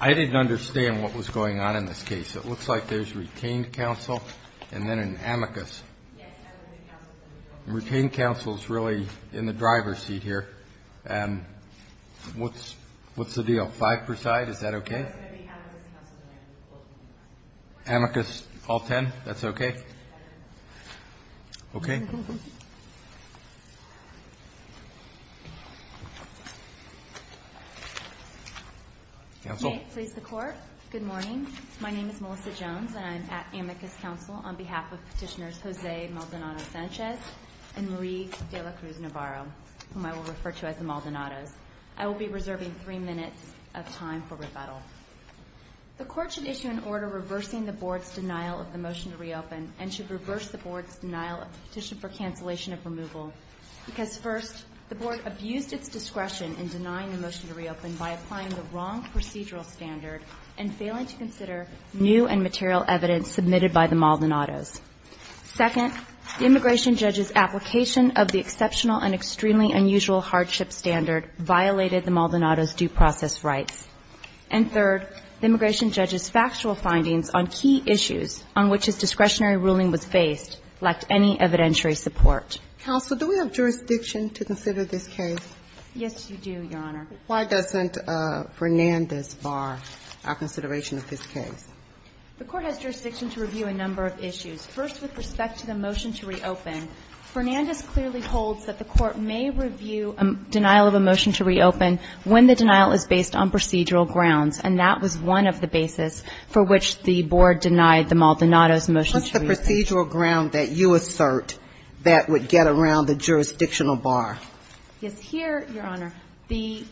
I didn't understand what was going on in this case. It looks like there's retained counsel and then an amicus. Retained counsel is really in the driver's seat here. And what's, what's the deal? Five per side. Is that okay? Amicus all 10. That's okay. Okay. Counsel. May it please the court. Good morning. My name is Melissa Jones and I'm at amicus counsel on behalf of petitioners, Jose Maldonado Sanchez and Marie de la Cruz Navarro, whom I will refer to as the Maldonados. I will be reserving three minutes of time for rebuttal. The court should issue an order reversing the board's denial of the motion to reopen and should reverse the board's denial of the petition for cancellation of removal. Because first the board abused its discretion in denying the motion to reopen by applying the wrong procedural standard and failing to consider new and material evidence submitted by the Maldonados. Second, the immigration judge's application of the exceptional and extremely unusual hardship standard violated the Maldonados due process rights. And third, the immigration judge's factual findings on key issues on which his discretionary ruling was based lacked any evidentiary support. Counsel, do we have jurisdiction to consider this case? Yes, you do, Your Honor. Why doesn't Fernandez bar our consideration of this case? The court has jurisdiction to review a number of issues. First, with respect to the motion to reopen, Fernandez clearly holds that the court may review a denial of a motion to reopen when the denial is based on procedural grounds, and that was one of the basis for which the board denied the Maldonados motion to reopen. What's the procedural ground that you assert that would get around the jurisdictional bar? Yes. Here, Your Honor, the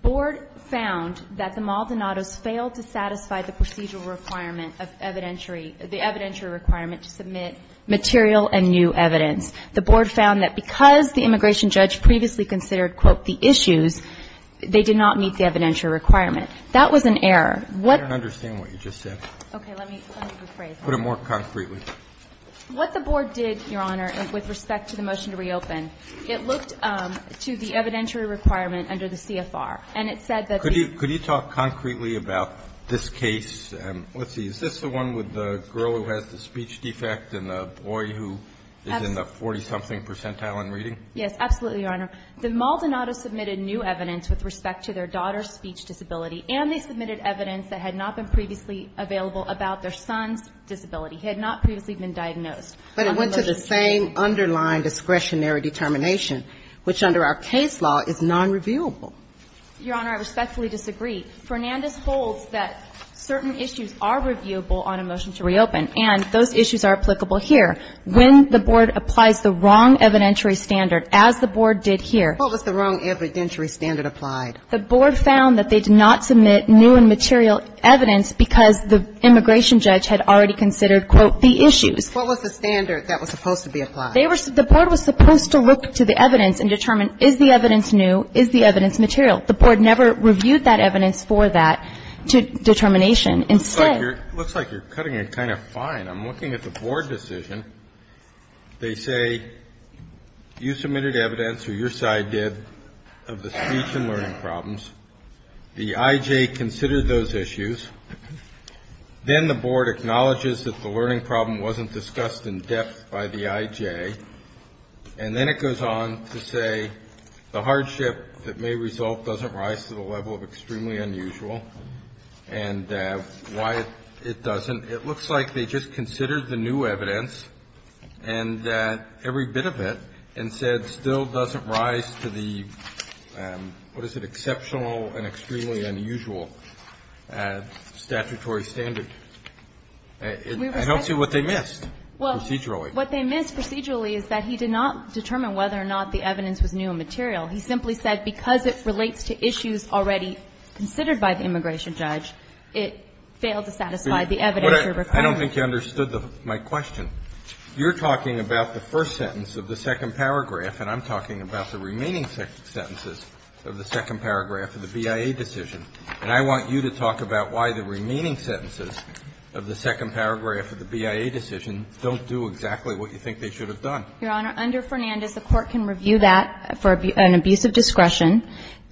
board found that the Maldonados failed to satisfy the procedural requirement of evidentiary the evidentiary requirement to submit material and new evidence. The board found that because the immigration judge previously considered, quote, the issues, they did not meet the evidentiary requirement. What the court found was that the board failed to satisfy the procedural requirement And there was a number of other reasons for that, but I will go over them more concretely. What the board did, Your Honor, with respect to the motion to reopen, it looked to the evidentiary requirement under the CFR, and it said that the ---- Could you talk concretely about this case? And let's see, is this the one with the girl who has the speech defect and the boy who is in the 40-something percentile in reading? Yes, absolutely, Your Honor. The Maldonado submitted new evidence with respect to their daughter's speech disability, and they submitted evidence that had not been previously available about their son's disability. He had not previously been diagnosed. But it went to the same underlying discretionary determination, which under our case law is nonreviewable. Your Honor, I respectfully disagree. Fernandez holds that certain issues are reviewable on a motion to reopen, and those issues are applicable here. When the board applies the wrong evidentiary standard, as the board did here ---- What was the wrong evidentiary standard applied? The board found that they did not submit new and material evidence because the immigration judge had already considered, quote, the issues. What was the standard that was supposed to be applied? They were ---- the board was supposed to look to the evidence and determine is the evidence new, is the evidence material. The board never reviewed that evidence for that determination. Instead ---- It looks like you're cutting it kind of fine. I'm looking at the board decision. They say you submitted evidence, or your side did, of the speech and learning problems. The I.J. considered those issues. Then the board acknowledges that the learning problem wasn't discussed in depth by the I.J., and then it goes on to say the hardship that may result doesn't rise to the level of extremely unusual, and why it doesn't. And it looks like they just considered the new evidence, and every bit of it, and said still doesn't rise to the, what is it, exceptional and extremely unusual statutory standard. I don't see what they missed procedurally. Well, what they missed procedurally is that he did not determine whether or not the evidence was new and material. He simply said because it relates to issues already considered by the immigration judge, it failed to satisfy the evidence. I don't think you understood my question. You're talking about the first sentence of the second paragraph, and I'm talking about the remaining sentences of the second paragraph of the BIA decision. And I want you to talk about why the remaining sentences of the second paragraph of the BIA decision don't do exactly what you think they should have done. Your Honor, under Fernandez, the Court can review that for an abuse of discretion.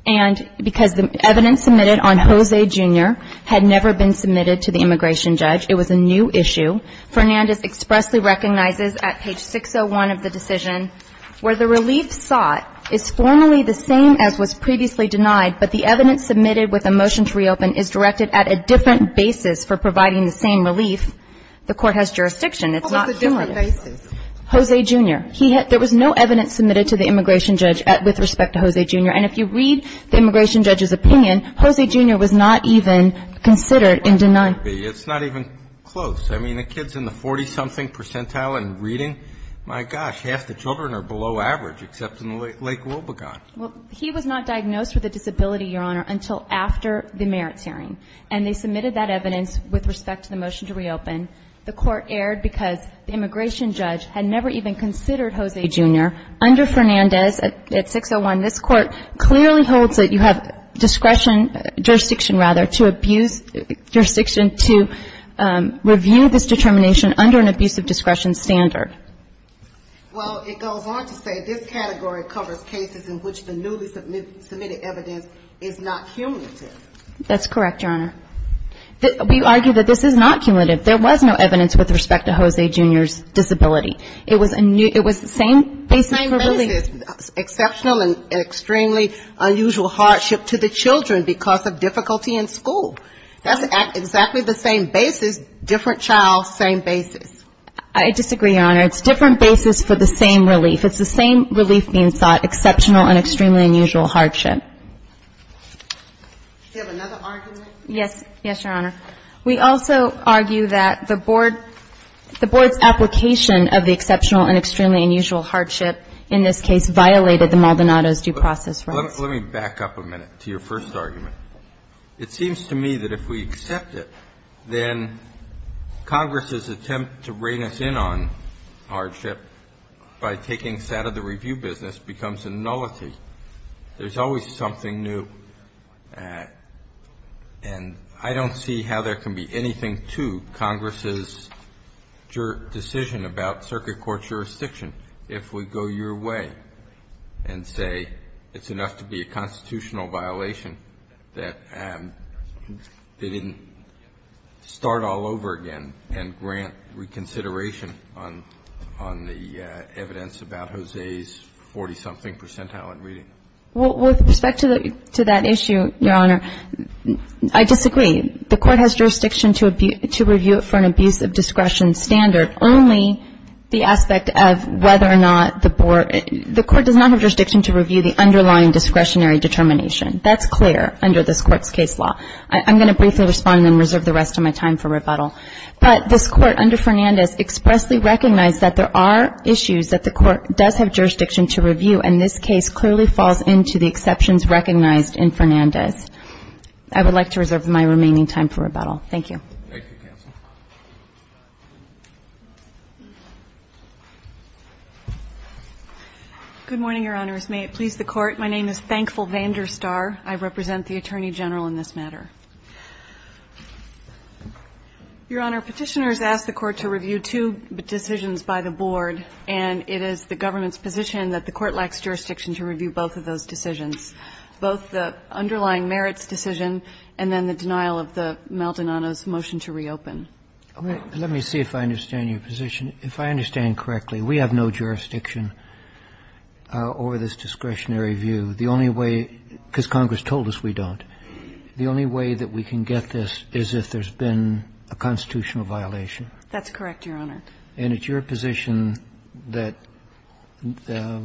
And because the evidence submitted on José, Jr. had never been submitted to the immigration judge, it was a new issue, Fernandez expressly recognizes at page 601 of the decision, where the relief sought is formally the same as was previously denied, but the evidence submitted with a motion to reopen is directed at a different basis for providing the same relief, the Court has jurisdiction. It's not clear. What was the different basis? José, Jr. There was no evidence submitted to the immigration judge with respect to José, Jr. And if you read the immigration judge's opinion, José, Jr. was not even considered in denying it. It's not even close. I mean, the kids in the 40-something percentile and reading, my gosh, half the children are below average, except in Lake Wobegon. Well, he was not diagnosed with a disability, Your Honor, until after the merits hearing. And they submitted that evidence with respect to the motion to reopen. The Court erred because the immigration judge had never even considered José, Jr. Under Fernandez at 601, this Court clearly holds that you have discretion, jurisdiction rather, to abuse, jurisdiction to review this determination under an abuse of discretion standard. Well, it goes on to say this category covers cases in which the newly submitted evidence is not cumulative. That's correct, Your Honor. We argue that this is not cumulative. There was no evidence with respect to José, Jr.'s disability. It was a new, it was the same basis for relief. Exceptional and extremely unusual hardship to the children because of difficulty in school. That's exactly the same basis, different child, same basis. I disagree, Your Honor. It's different basis for the same relief. It's the same relief being sought, exceptional and extremely unusual hardship. Yes. Yes, Your Honor. We also argue that the board, the board's application of the exceptional and extremely unusual hardship case violated the Maldonado's due process rights. Let me back up a minute to your first argument. It seems to me that if we accept it, then Congress's attempt to rein us in on hardship by taking us out of the review business becomes a nullity. There's always something new. And I don't see how there can be anything to Congress's decision about circuit court jurisdiction if we go your way. And say it's enough to be a constitutional violation that they didn't start all over again and grant reconsideration on the evidence about Jose's 40-something percentile in reading. Well, with respect to that issue, Your Honor, I disagree. The court has jurisdiction to review it for an abuse of discretion standard. Only the aspect of whether or not the board, the court does not have jurisdiction to review the underlying discretionary determination. That's clear under this court's case law. I'm going to briefly respond and then reserve the rest of my time for rebuttal. But this court under Fernandez expressly recognized that there are issues that the court does have jurisdiction to review. And this case clearly falls into the exceptions recognized in Fernandez. I would like to reserve my remaining time for rebuttal. Thank you. Good morning, Your Honors. May it please the Court. My name is Thankful Vander Star. I represent the Attorney General in this matter. Your Honor, Petitioners ask the Court to review two decisions by the board. And it is the government's position that the Court lacks jurisdiction to review both of those decisions, both the underlying merits decision and then the denial of the Maldonado's motion to reopen. Let me see if I understand your position. If I understand correctly, we have no jurisdiction over this discretionary view. The only way, because Congress told us we don't, the only way that we can get this is if there's been a constitutional violation. That's correct, Your Honor. And it's your position that the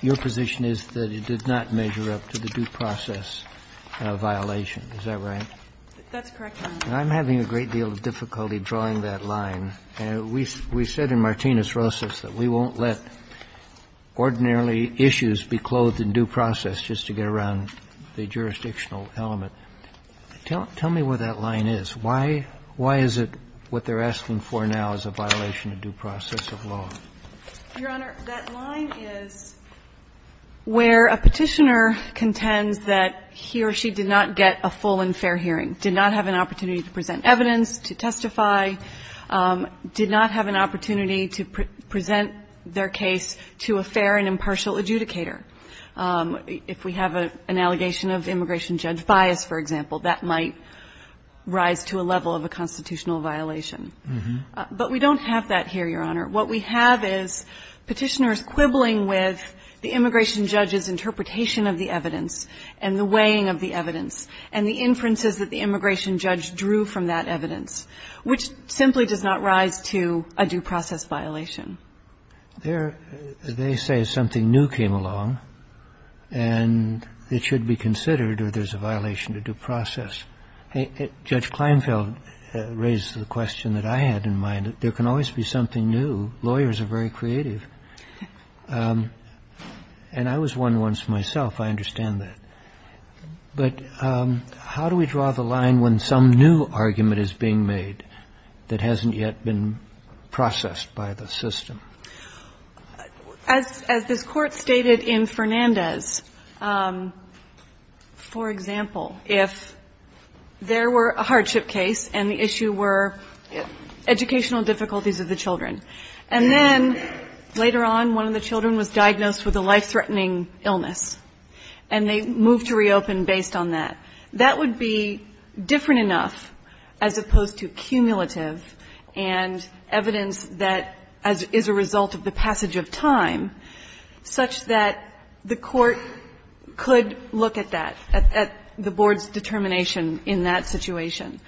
your position is that it did not measure up to the due process violation, is that right? That's correct, Your Honor. And I'm having a great deal of difficulty drawing that line. We said in Martinez-Rosas that we won't let ordinarily issues be clothed in due process just to get around the jurisdictional element. Tell me what that line is. Why is it what they're asking for now is a violation of due process of law? Your Honor, that line is where a Petitioner contends that he or she did not get a full and fair hearing, did not have an opportunity to present evidence, to testify, did not have an opportunity to present their case to a fair and impartial adjudicator. If we have an allegation of immigration judge bias, for example, that might rise to a level of a constitutional violation. But we don't have that here, Your Honor. What we have is Petitioners quibbling with the immigration judge's interpretation of the evidence and the weighing of the evidence and the inferences that the immigration judge drew from that evidence, which simply does not rise to a due process violation. They say something new came along and it should be considered or there's a violation to due process. Judge Kleinfeld raised the question that I had in mind, that there can always be something new. Lawyers are very creative. And I was one once myself. I understand that. But how do we draw the line when some new argument is being made that hasn't yet been processed by the system? As this Court stated in Fernandez, for example, if there were a hardship case and the later on one of the children was diagnosed with a life-threatening illness and they moved to reopen based on that, that would be different enough as opposed to cumulative and evidence that is a result of the passage of time such that the court could look at that, at the board's determination in that situation.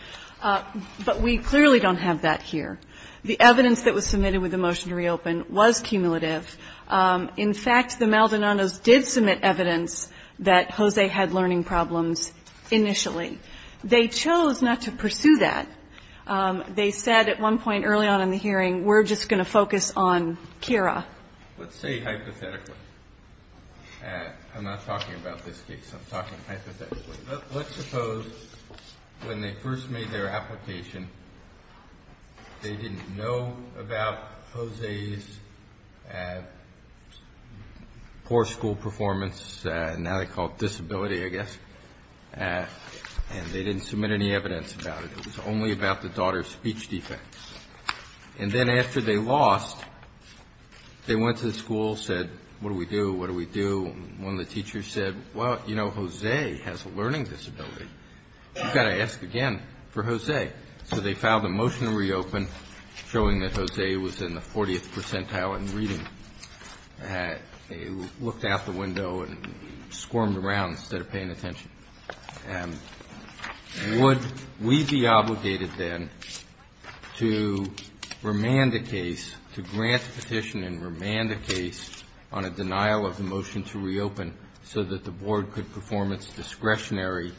But we clearly don't have that here. The evidence that was submitted with the motion to reopen was cumulative. In fact, the Maldonados did submit evidence that Jose had learning problems initially. They chose not to pursue that. They said at one point early on in the hearing, we're just going to focus on Kira. Let's say hypothetically, I'm not talking about this case, I'm talking hypothetically. Let's suppose when they first made their application, they didn't know about Jose's poor school performance, now they call it disability, I guess, and they didn't submit any evidence about it. It was only about the daughter's speech defects. And then after they lost, they went to the school, said, what do we do, what do we do? One of the teachers said, well, you know, Jose has a learning disability. You've got to ask again for Jose. So they filed a motion to reopen showing that Jose was in the 40th percentile in reading. They looked out the window and squirmed around instead of paying attention. Would we be obligated then to remand the case, to grant the petition and remand the case on a denial of the motion to reopen so that the board could perform its discretionary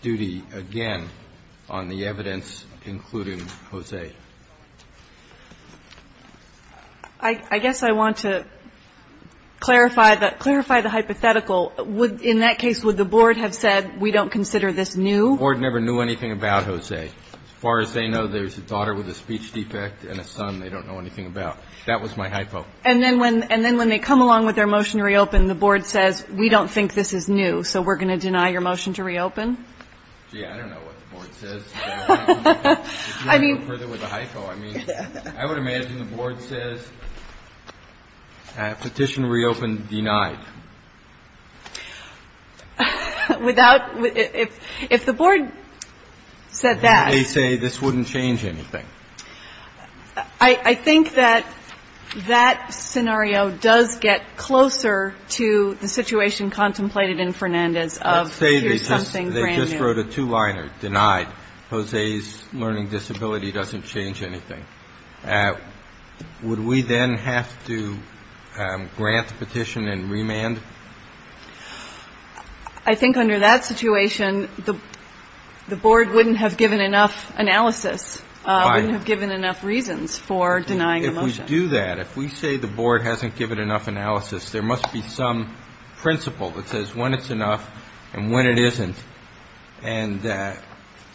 duty again on the evidence including Jose? I guess I want to clarify the hypothetical. In that case, would the board have said, we don't consider this new? The board never knew anything about Jose. As far as they know, there's a daughter with a speech defect and a son they don't know anything about. That was my hypo. And then when they come along with their motion to reopen, the board says, we don't think this is new. So we're going to deny your motion to reopen? Gee, I don't know what the board says to that. If you want to go further with the hypo, I mean, I would imagine the board says, petition reopened denied. Without – if the board said that – They say this wouldn't change anything. I think that that scenario does get closer to the situation contemplated in Fernandez of here's something brand new. Let's say they just wrote a two-liner, denied. Jose's learning disability doesn't change anything. Would we then have to grant the petition and remand? I think under that situation, the board wouldn't have given enough analysis. Wouldn't have given enough reasons for denying the motion. If we do that, if we say the board hasn't given enough analysis, there must be some principle that says when it's enough and when it isn't. And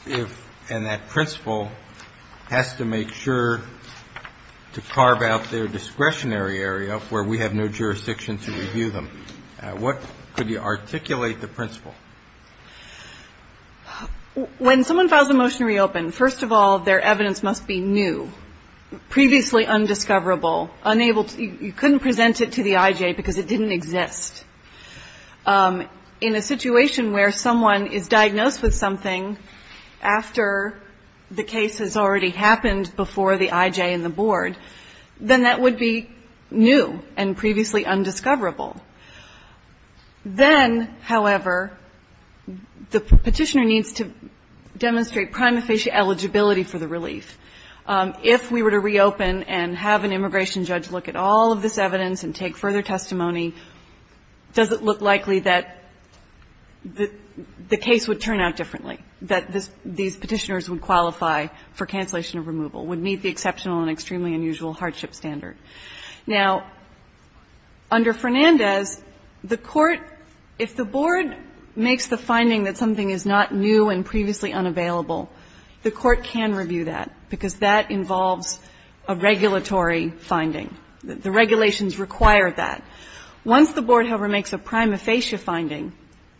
if – and that principle has to make sure to carve out their discretionary area where we have no jurisdiction to review them. What – could you articulate the principle? When someone files a motion to reopen, first of all, their evidence must be new, previously undiscoverable, unable – you couldn't present it to the IJ because it didn't exist. In a situation where someone is diagnosed with something after the case has already happened before the IJ and the board, then that would be new and previously undiscoverable. Then, however, the petitioner needs to demonstrate prima facie eligibility for the relief. If we were to reopen and have an immigration judge look at all of this evidence and take further testimony, does it look likely that the case would turn out differently, that these petitioners would qualify for cancellation of removal, would meet the exceptional and extremely unusual hardship standard? Now, under Fernandez, the court – if the board makes the finding that something is not new and previously unavailable, the court can review that because that involves a regulatory finding. The regulations require that. Once the board, however, makes a prima facie finding,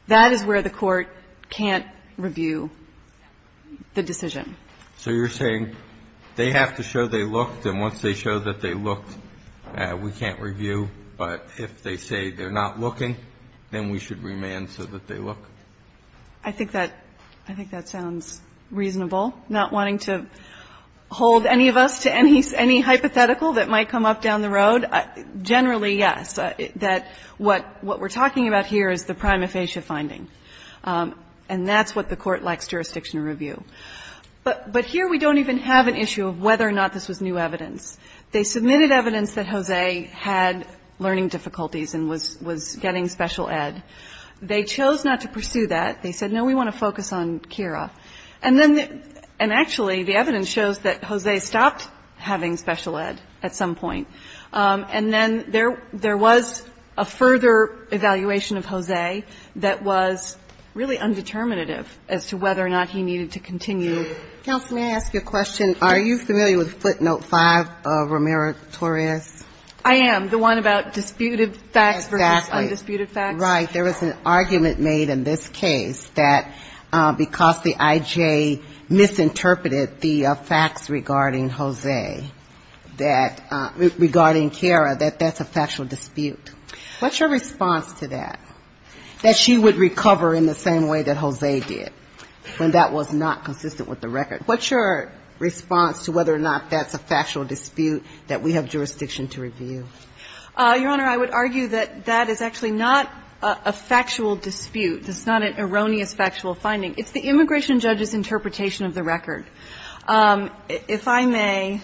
that is where the court can't review the decision. So you're saying they have to show they looked, and once they show that they looked, we can't review. But if they say they're not looking, then we should remand so that they look? I think that – I think that sounds reasonable, not wanting to hold any of us to any hypothetical that might come up down the road. Generally, yes, that what we're talking about here is the prima facie finding. And that's what the court likes jurisdiction to review. But here we don't even have an issue of whether or not this was new evidence. They submitted evidence that Jose had learning difficulties and was getting special ed. They chose not to pursue that. They said, no, we want to focus on Kira. And then – and actually, the evidence shows that Jose stopped having special ed at some point. And then there was a further evaluation of Jose that was really undeterminative as to whether or not he needed to continue. Counsel, may I ask you a question? Are you familiar with footnote 5 of Romero-Torres? I am, the one about disputed facts versus undisputed facts. Exactly. Right. There was an argument made in this case that because the I.J. misinterpreted the facts regarding Jose that – regarding Kira, that that's a factual dispute. What's your response to that? That she would recover in the same way that Jose did when that was not consistent with the record. What's your response to whether or not that's a factual dispute that we have jurisdiction to review? Your Honor, I would argue that that is actually not a factual dispute. It's not an erroneous factual finding. It's the immigration judge's interpretation of the record. If I may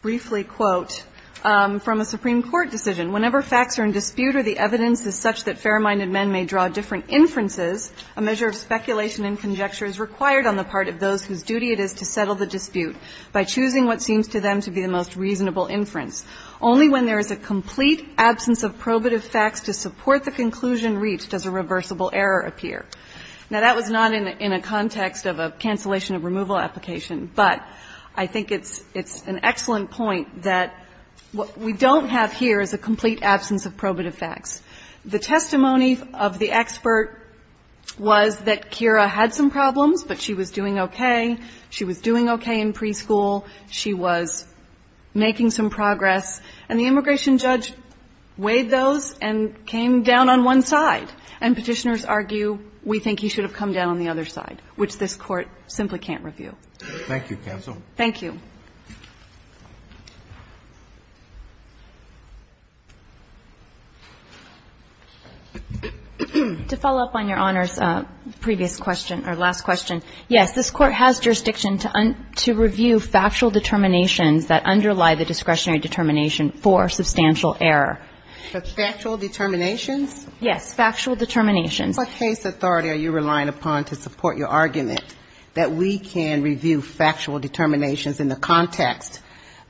briefly quote from a Supreme Court decision. Whenever facts are in dispute or the evidence is such that fair-minded men may draw different inferences, a measure of speculation and conjecture is required on the part of those whose duty it is to settle the dispute by choosing what seems to them to be the most reasonable inference. Only when there is a complete absence of probative facts to support the conclusion reached does a reversible error appear. Now, that was not in a context of a cancellation of removal application. But I think it's an excellent point that what we don't have here is a complete absence of probative facts. The testimony of the expert was that Kira had some problems, but she was doing okay. She was doing okay in preschool. She was making some progress. And the immigration judge weighed those and came down on one side. And Petitioners argue we think he should have come down on the other side, which this Court simply can't review. Thank you, counsel. Thank you. To follow up on Your Honor's previous question or last question, yes, this Court has jurisdiction to review factual determinations that underlie the discretionary determination for substantial error. But factual determinations? Yes. Factual determinations. What case authority are you relying upon to support your argument that we can review factual determinations in the context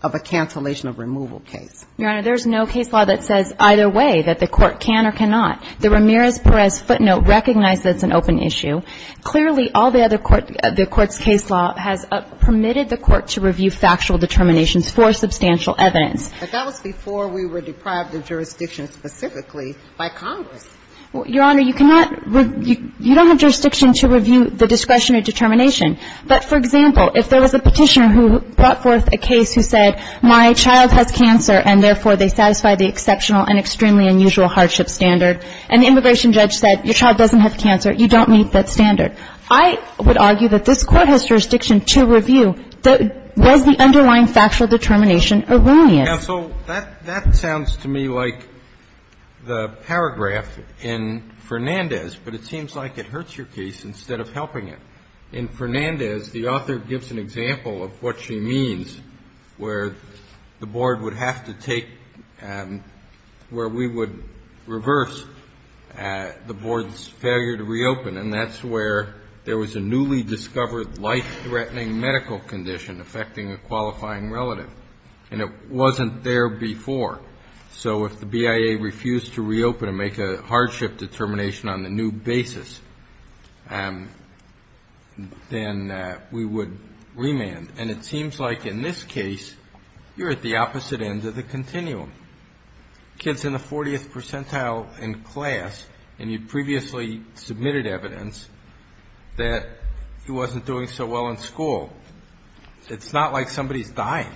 of a cancellation of removal case? Your Honor, there's no case law that says either way that the Court can or cannot. The Ramirez-Perez footnote recognized that's an open issue. Clearly, all the other court the Court's case law has permitted the Court to review factual determinations for substantial evidence. But that was before we were deprived of jurisdiction specifically by Congress. Well, Your Honor, you cannot review – you don't have jurisdiction to review the discretionary determination. But, for example, if there was a Petitioner who brought forth a case who said my child has cancer and, therefore, they satisfy the exceptional and extremely unusual hardship standard, and the immigration judge said your child doesn't have cancer, you don't meet that standard, I would argue that this Court has jurisdiction to review was the underlying factual determination erroneous. Now, so that sounds to me like the paragraph in Fernandez, but it seems like it hurts your case instead of helping it. In Fernandez, the author gives an example of what she means where the Board would have to take – where we would reverse the Board's failure to reopen, and that's where there was a newly discovered life-threatening medical condition affecting a qualifying relative. And it wasn't there before. So if the BIA refused to reopen and make a hardship determination on the new basis, then we would remand. And it seems like in this case you're at the opposite end of the continuum. The kid's in the 40th percentile in class, and you previously submitted evidence that he wasn't doing so well in school. It's not like somebody's dying.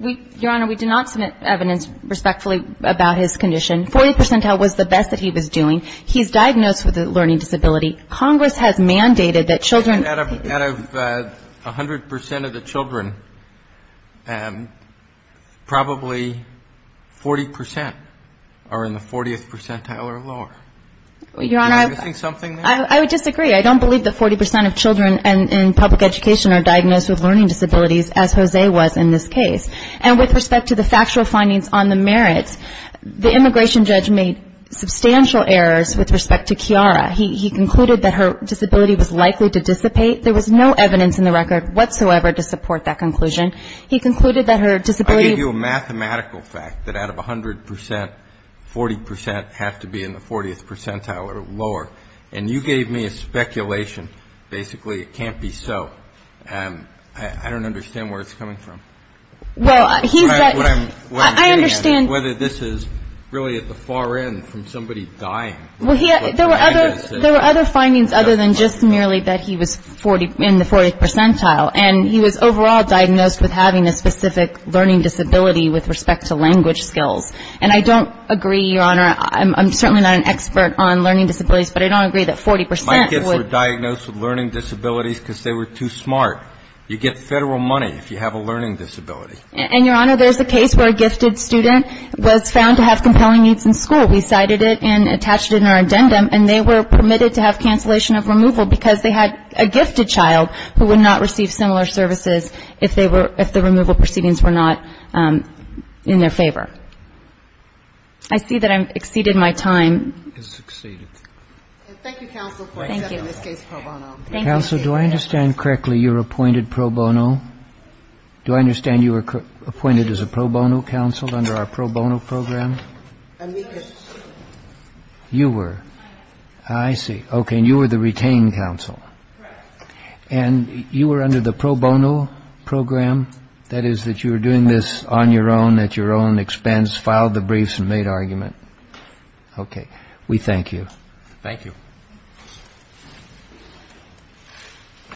Your Honor, we did not submit evidence respectfully about his condition. 40th percentile was the best that he was doing. He's diagnosed with a learning disability. Congress has mandated that children – Out of 100 percent of the children, probably 40 percent are in the 40th percentile or lower. Your Honor, I would disagree. I don't believe that 40 percent of children in public education are diagnosed with learning disabilities, as Jose was in this case. And with respect to the factual findings on the merits, the immigration judge made substantial errors with respect to Kiara. He concluded that her disability was likely to dissipate. There was no evidence in the record whatsoever to support that conclusion. He concluded that her disability – I gave you a mathematical fact that out of 100 percent, 40 percent have to be in the 40th percentile or lower. And you gave me a speculation. Basically, it can't be so. I don't understand where it's coming from. Well, he's – What I'm getting at is whether this is really at the far end from somebody dying. There were other findings other than just merely that he was in the 40th percentile. And he was overall diagnosed with having a specific learning disability with respect to language skills. And I don't agree, Your Honor. I'm certainly not an expert on learning disabilities, but I don't agree that 40 percent would – My kids were diagnosed with learning disabilities because they were too smart. You get Federal money if you have a learning disability. And, Your Honor, there's a case where a gifted student was found to have compelling needs in school. We cited it and attached it in our addendum. And they were permitted to have cancellation of removal because they had a gifted child who would not receive similar services if they were – if the removal proceedings were not in their favor. I see that I've exceeded my time. It's exceeded. Thank you, counsel, for accepting this case pro bono. Thank you. Counsel, do I understand correctly you were appointed pro bono? Do I understand you were appointed as a pro bono counsel under our pro bono program? And we were. You were. I see. Okay. And you were the retained counsel. Correct. And you were under the pro bono program. That is, that you were doing this on your own, at your own expense, filed the briefs and made argument. Okay. We thank you. Thank you.